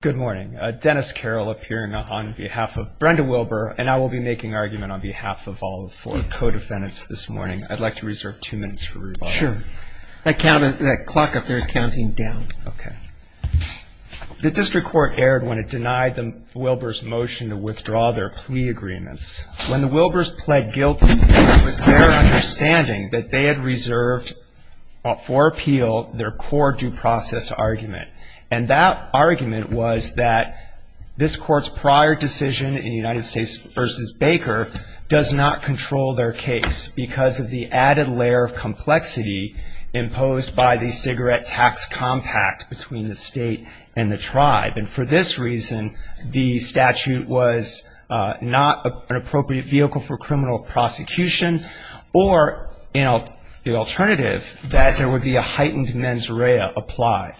Good morning. Dennis Carroll appearing on behalf of Brenda Wilbur, and I will be making argument on behalf of all the four co-defendants this morning. I'd like to reserve two minutes for rebuttal. Sure. That clock up there is counting down. Okay. The district court erred when it denied Wilbur's motion to withdraw their plea agreements. When the Wilburs pled guilty, it was their understanding that they had reserved for appeal their core due process argument. And that argument was that this court's prior decision in United States v. Baker does not control their case because of the added layer of complexity imposed by the cigarette tax compact between the state and the tribe. And for this reason, the statute was not an appropriate vehicle for criminal prosecution or the alternative that there would be a heightened mens rea applied.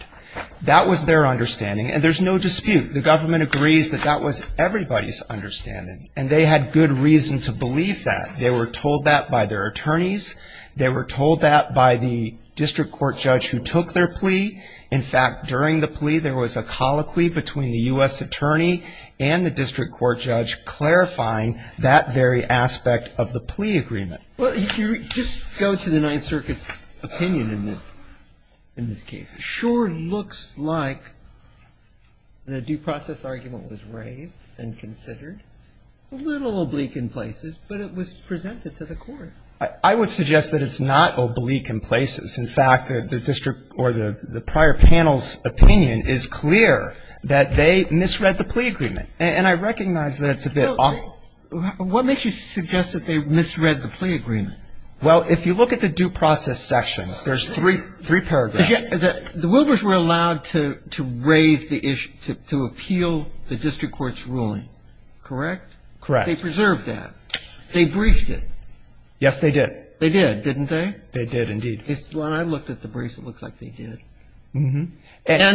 That was their understanding. And there's no dispute. The government agrees that that was everybody's understanding. And they had good reason to believe that. They were told that by their attorneys. They were told that by the district court judge who took their plea. In fact, during the plea, there was a colloquy between the U.S. attorney and the district court judge clarifying that very aspect of the plea agreement. Well, just go to the Ninth Circuit's opinion in this case. It sure looks like the due process argument was raised and considered, a little oblique in places, but it was presented to the court. I would suggest that it's not oblique in places. In fact, the district or the prior panel's opinion is clear that they misread the plea agreement. And I recognize that it's a bit odd. So what makes you suggest that they misread the plea agreement? Well, if you look at the due process section, there's three paragraphs. The Wilbers were allowed to raise the issue, to appeal the district court's ruling, correct? Correct. They preserved that. They briefed it. Yes, they did. They did, didn't they? They did, indeed. When I looked at the briefs, it looks like they did. And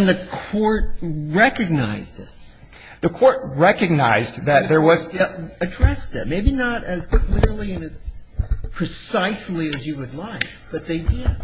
the court recognized it. The court recognized that there was They addressed it, maybe not as clearly and as precisely as you would like, but they did.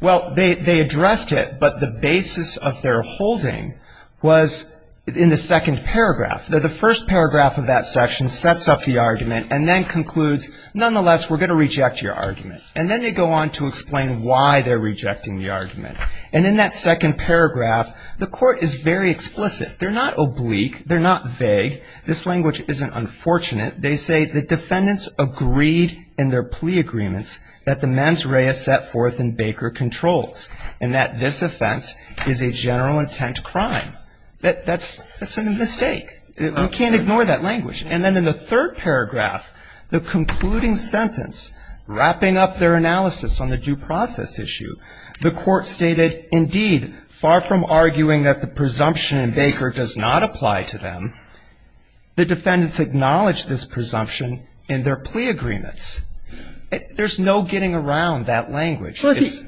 Well, they addressed it, but the basis of their holding was in the second paragraph. The first paragraph of that section sets up the argument and then concludes, nonetheless, we're going to reject your argument. And then they go on to explain why they're rejecting the argument. And in that second paragraph, the court is very explicit. They're not oblique. They're not vague. This language isn't unfortunate. They say the defendants agreed in their plea agreements that the mens rea set forth in Baker Controls and that this offense is a general intent crime. That's a mistake. We can't ignore that language. And then in the third paragraph, the concluding sentence, wrapping up their analysis on the due process issue, the court stated, indeed, far from arguing that the presumption in Baker does not apply to them, the defendants acknowledge this presumption in their plea agreements. There's no getting around that language. This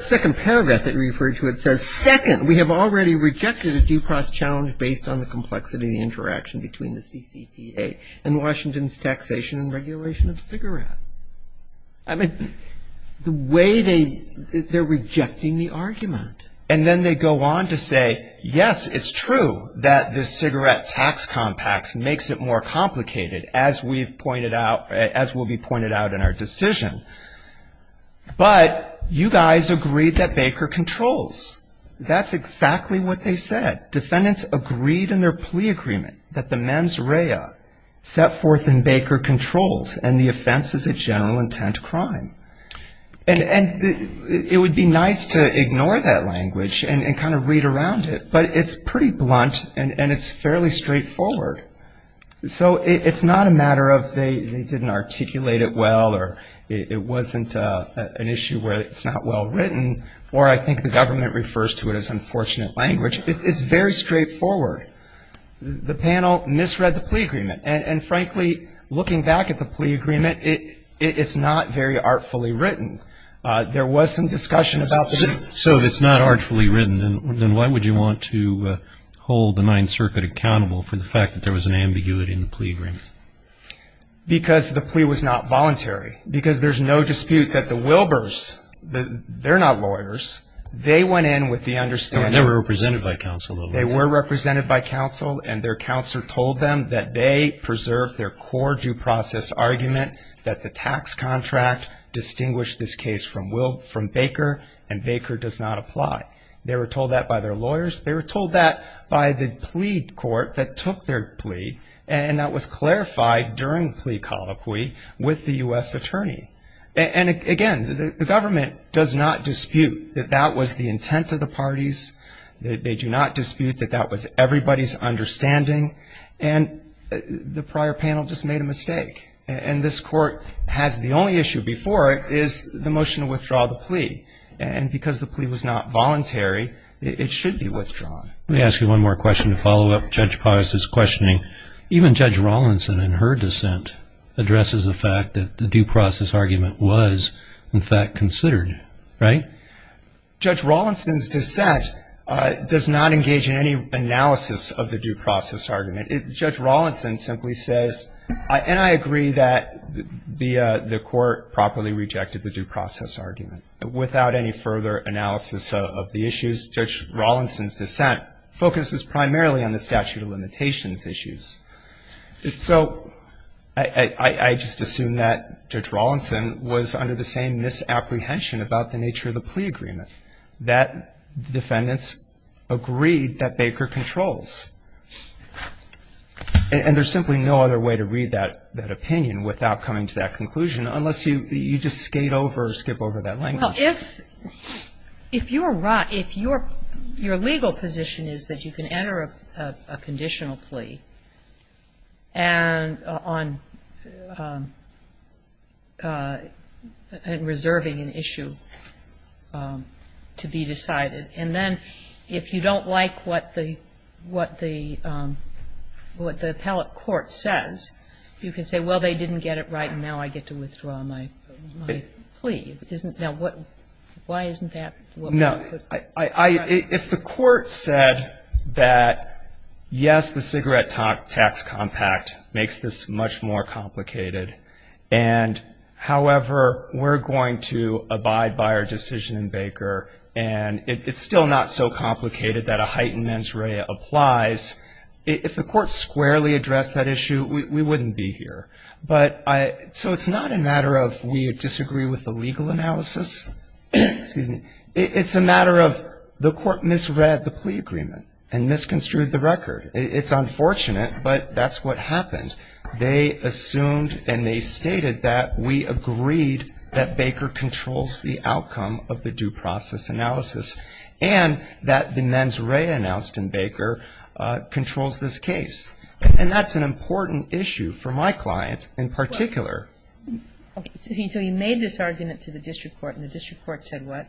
second paragraph that you refer to, it says, Second, we have already rejected a due process challenge based on the complexity of the interaction between the CCTA and Washington's taxation and regulation of cigarettes. I mean, the way they're rejecting the argument. And then they go on to say, yes, it's true that the cigarette tax compacts makes it more complicated, as we've pointed out, as will be pointed out in our decision. But you guys agreed that Baker Controls. That's exactly what they said. Defendants agreed in their plea agreement that the mens rea set forth in Baker Controls and the offense is a general intent crime. And it would be nice to ignore that language and kind of read around it, but it's pretty blunt and it's fairly straightforward. So it's not a matter of they didn't articulate it well or it wasn't an issue where it's not well written, or I think the government refers to it as unfortunate language. It's very straightforward. The panel misread the plea agreement. And, frankly, looking back at the plea agreement, it's not very artfully written. There was some discussion about the plea agreement. So if it's not artfully written, then why would you want to hold the Ninth Circuit accountable for the fact that there was an ambiguity in the plea agreement? Because the plea was not voluntary. Because there's no dispute that the Wilbers, they're not lawyers, they went in with the understanding. They were represented by counsel. And their counsel told them that they preserved their core due process argument, that the tax contract distinguished this case from Baker, and Baker does not apply. They were told that by their lawyers. They were told that by the plea court that took their plea, and that was clarified during plea colloquy with the U.S. attorney. And, again, the government does not dispute that that was the intent of the parties. They do not dispute that that was everybody's understanding. And the prior panel just made a mistake. And this Court has the only issue before it is the motion to withdraw the plea. And because the plea was not voluntary, it should be withdrawn. Let me ask you one more question to follow up Judge Pottis' questioning. Even Judge Rawlinson, in her dissent, addresses the fact that the due process argument was, in fact, considered, right? Judge Rawlinson's dissent does not engage in any analysis of the due process argument. Judge Rawlinson simply says, and I agree that the Court properly rejected the due process argument. Without any further analysis of the issues, Judge Rawlinson's dissent focuses primarily on the statute of limitations issues. So I just assume that Judge Rawlinson was under the same misapprehension about the nature of the plea agreement that defendants agreed that Baker controls. And there's simply no other way to read that opinion without coming to that conclusion, unless you just skate over or skip over that language. Well, if you're right, if your legal position is that you can enter a conditional plea and on reserving an issue to be decided, and then if you don't like what the appellate court says, you can say, well, they didn't get it right, and now I get to withdraw my plea. Now, why isn't that? No. If the Court said that, yes, the cigarette tax compact makes this much more complicated, and, however, we're going to abide by our decision in Baker, and it's still not so complicated that a heightened mens rea applies, if the Court squarely addressed that issue, we wouldn't be here. So it's not a matter of we disagree with the legal analysis. It's a matter of the Court misread the plea agreement and misconstrued the record. It's unfortunate, but that's what happened. They assumed and they stated that we agreed that Baker controls the outcome of the due process analysis and that the mens rea announced in Baker controls this case. And that's an important issue for my client in particular. Okay. So you made this argument to the district court, and the district court said what?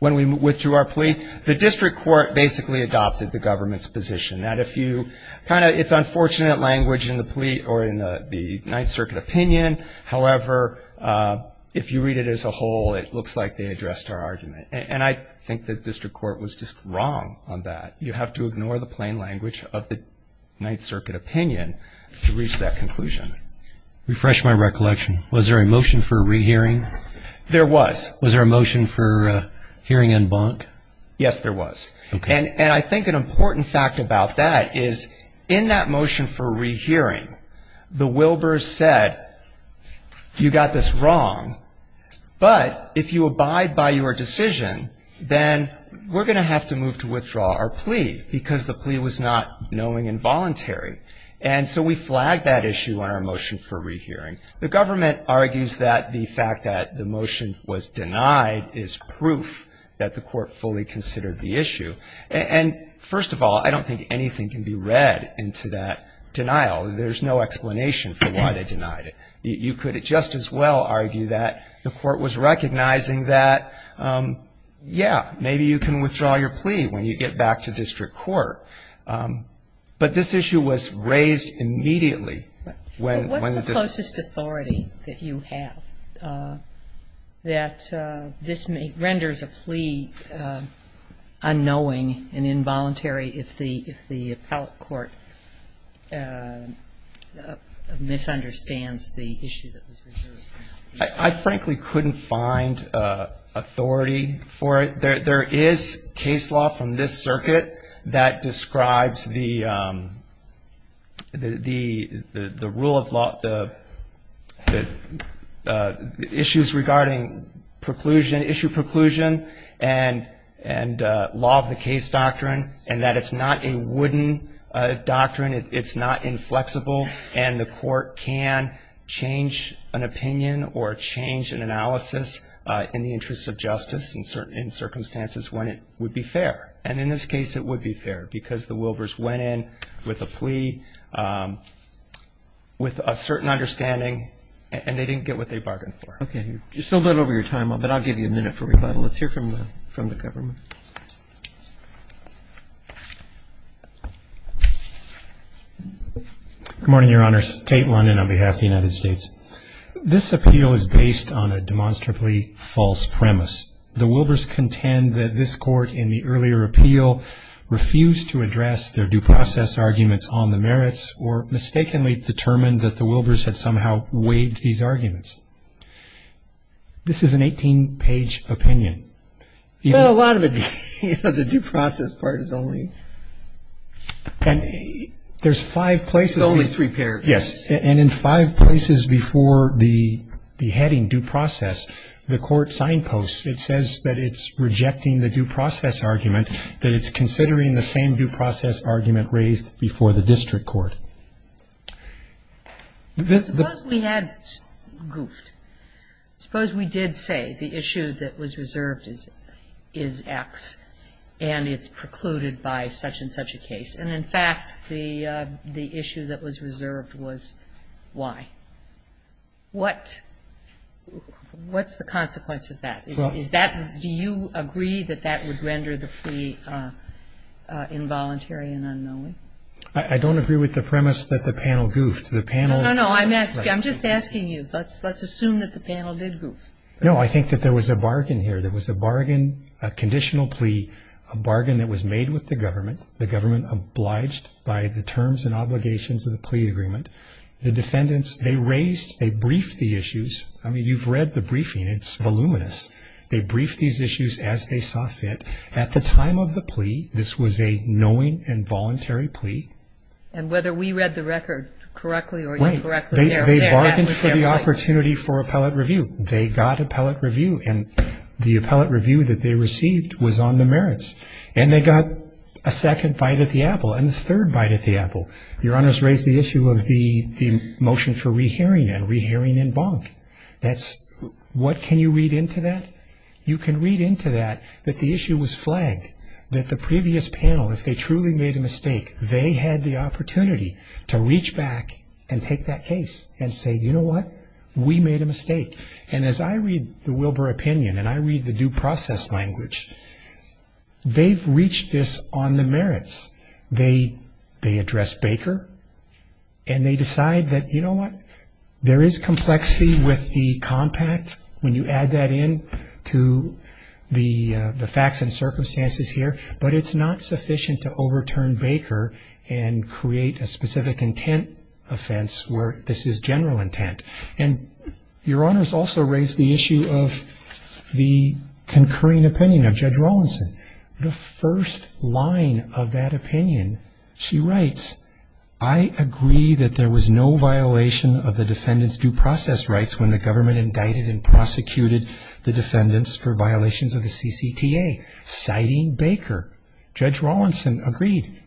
When we withdrew our plea, the district court basically adopted the government's position, that if you kind of, it's unfortunate language in the plea or in the Ninth Circuit opinion. However, if you read it as a whole, it looks like they addressed our argument, and I think the district court was just wrong on that. You have to ignore the plain language of the Ninth Circuit opinion to reach that conclusion. Refresh my recollection. Was there a motion for rehearing? There was. Was there a motion for hearing en banc? Yes, there was. Okay. And I think an important fact about that is in that motion for rehearing, the Wilbers said you got this wrong, but if you abide by your decision, then we're going to have to move to withdraw our plea because the plea was not knowing and voluntary. And so we flagged that issue on our motion for rehearing. The government argues that the fact that the motion was denied is proof that the court fully considered the issue. And first of all, I don't think anything can be read into that denial. There's no explanation for why they denied it. You could just as well argue that the court was recognizing that, yeah, maybe you can withdraw your plea when you get back to district court. But this issue was raised immediately when the district court. But what's the closest authority that you have that this renders a plea unknowing and involuntary if the appellate court misunderstands the issue that was reserved? I frankly couldn't find authority for it. There is case law from this circuit that describes the rule of law, the issues regarding issue preclusion and law of the case doctrine, and that it's not a wooden doctrine. It's not inflexible. And the court can change an opinion or change an analysis in the interest of justice in circumstances when it would be fair. And in this case it would be fair because the Wilbers went in with a plea with a certain understanding, and they didn't get what they bargained for. Okay. You're still a little over your time, but I'll give you a minute for rebuttal. Let's hear from the government. Good morning, Your Honors. Tate London on behalf of the United States. This appeal is based on a demonstrably false premise. The Wilbers contend that this court in the earlier appeal refused to address their due process arguments on the merits or mistakenly determined that the Wilbers had somehow waived these arguments. This is an 18-page opinion. Well, a lot of it, you know, the due process part is only. And there's five places. There's only three paragraphs. Yes. And in five places before the heading due process, the court signposts. It says that it's rejecting the due process argument, that it's considering the same due process argument raised before the district court. Suppose we had goofed. Suppose we did say the issue that was reserved is X, and it's precluded by such and such a case. And, in fact, the issue that was reserved was Y. What's the consequence of that? Do you agree that that would render the plea involuntary and unknowing? I don't agree with the premise that the panel goofed. No, no, no. I'm just asking you. Let's assume that the panel did goof. No, I think that there was a bargain here. There was a bargain, a conditional plea, a bargain that was made with the government, the government obliged by the terms and obligations of the plea agreement. The defendants, they raised, they briefed the issues. I mean, you've read the briefing. It's voluminous. They briefed these issues as they saw fit. At the time of the plea, this was a knowing and voluntary plea. And whether we read the record correctly or incorrectly, there, that was their point. They bargained for the opportunity for appellate review. They got appellate review, and the appellate review that they received was on the merits. And they got a second bite at the apple and a third bite at the apple. Your Honors raised the issue of the motion for re-hearing and re-hearing in bonk. What can you read into that? You can read into that that the issue was flagged, that the previous panel, if they truly made a mistake, they had the opportunity to reach back and take that case and say, you know what, we made a mistake. And as I read the Wilbur opinion and I read the due process language, they've reached this on the merits. They address Baker, and they decide that, you know what, there is complexity with the compact when you add that in to the facts and circumstances here, but it's not sufficient to overturn Baker and create a specific intent offense where this is general intent. And Your Honors also raised the issue of the concurring opinion of Judge Rawlinson. The first line of that opinion, she writes, I agree that there was no violation of the defendant's due process rights when the government indicted and prosecuted the defendants for violations of the CCTA, citing Baker. Judge Rawlinson agreed.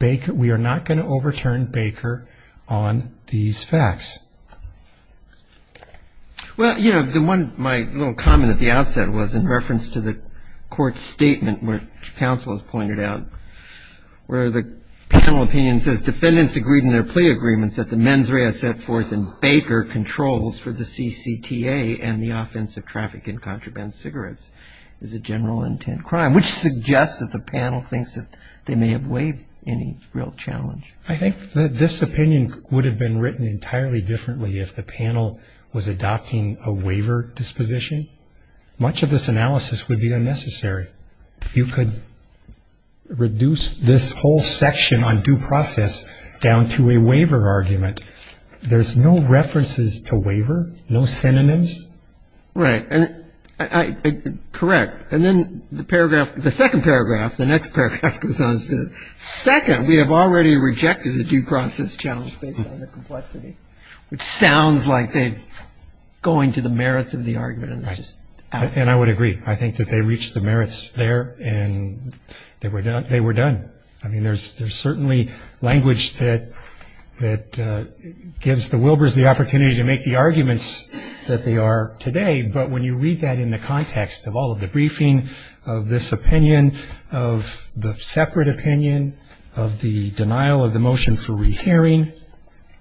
We are not going to overturn Baker on these facts. Well, you know, my little comment at the outset was in reference to the court statement which counsel has pointed out where the panel opinion says defendants agreed in their plea agreements that the mens rea set forth in Baker controls for the CCTA and the offense of traffic and contraband cigarettes is a general intent crime, which suggests that the panel thinks that they may have waived any real challenge. I think that this opinion would have been written entirely differently if the panel was adopting a waiver disposition. Much of this analysis would be unnecessary. You could reduce this whole section on due process down to a waiver argument. There's no references to waiver, no synonyms. Right. Correct. And then the paragraph, the second paragraph, the next paragraph, Second, we have already rejected the due process challenge based on the complexity, which sounds like they're going to the merits of the argument and it's just out. And I would agree. I think that they reached the merits there and they were done. I mean, there's certainly language that gives the Wilbers the opportunity to make the arguments that they are today, but when you read that in the context of all of the briefing, of this opinion, of the separate opinion, of the denial of the motion for rehearing,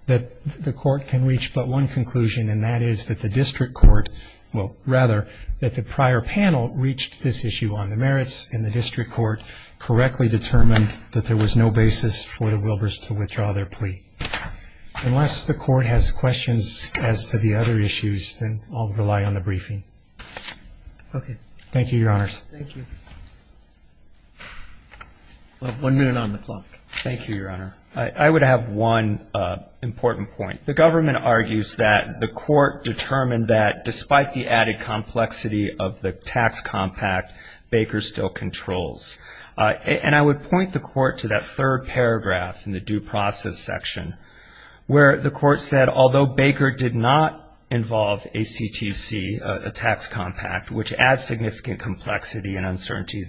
that the court can reach but one conclusion, and that is that the district court, well, rather, that the prior panel reached this issue on the merits and the district court correctly determined that there was no basis for the Wilbers to withdraw their plea. Unless the court has questions as to the other issues, then I'll rely on the briefing. Okay. Thank you, Your Honors. Thank you. One minute on the clock. Thank you, Your Honor. I would have one important point. The government argues that the court determined that despite the added complexity of the tax compact, Baker still controls. And I would point the court to that third paragraph in the due process section where the court said, although Baker did not involve ACTC, a tax compact, which adds significant complexity and uncertainty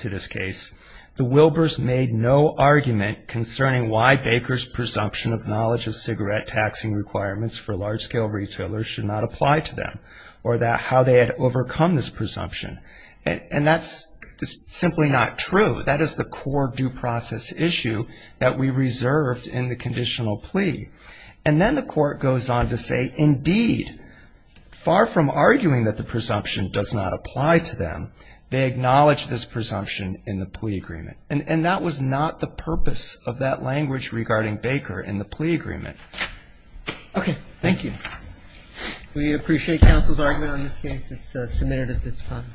to this case, the Wilbers made no argument concerning why Baker's presumption of knowledge of cigarette taxing requirements for large-scale retailers should not apply to them or how they had overcome this presumption. And that's just simply not true. That is the core due process issue that we reserved in the conditional plea. And then the court goes on to say, indeed, far from arguing that the presumption does not apply to them, they acknowledge this presumption in the plea agreement. And that was not the purpose of that language regarding Baker in the plea agreement. Okay. Thank you. We appreciate counsel's argument on this case. It's submitted at this time.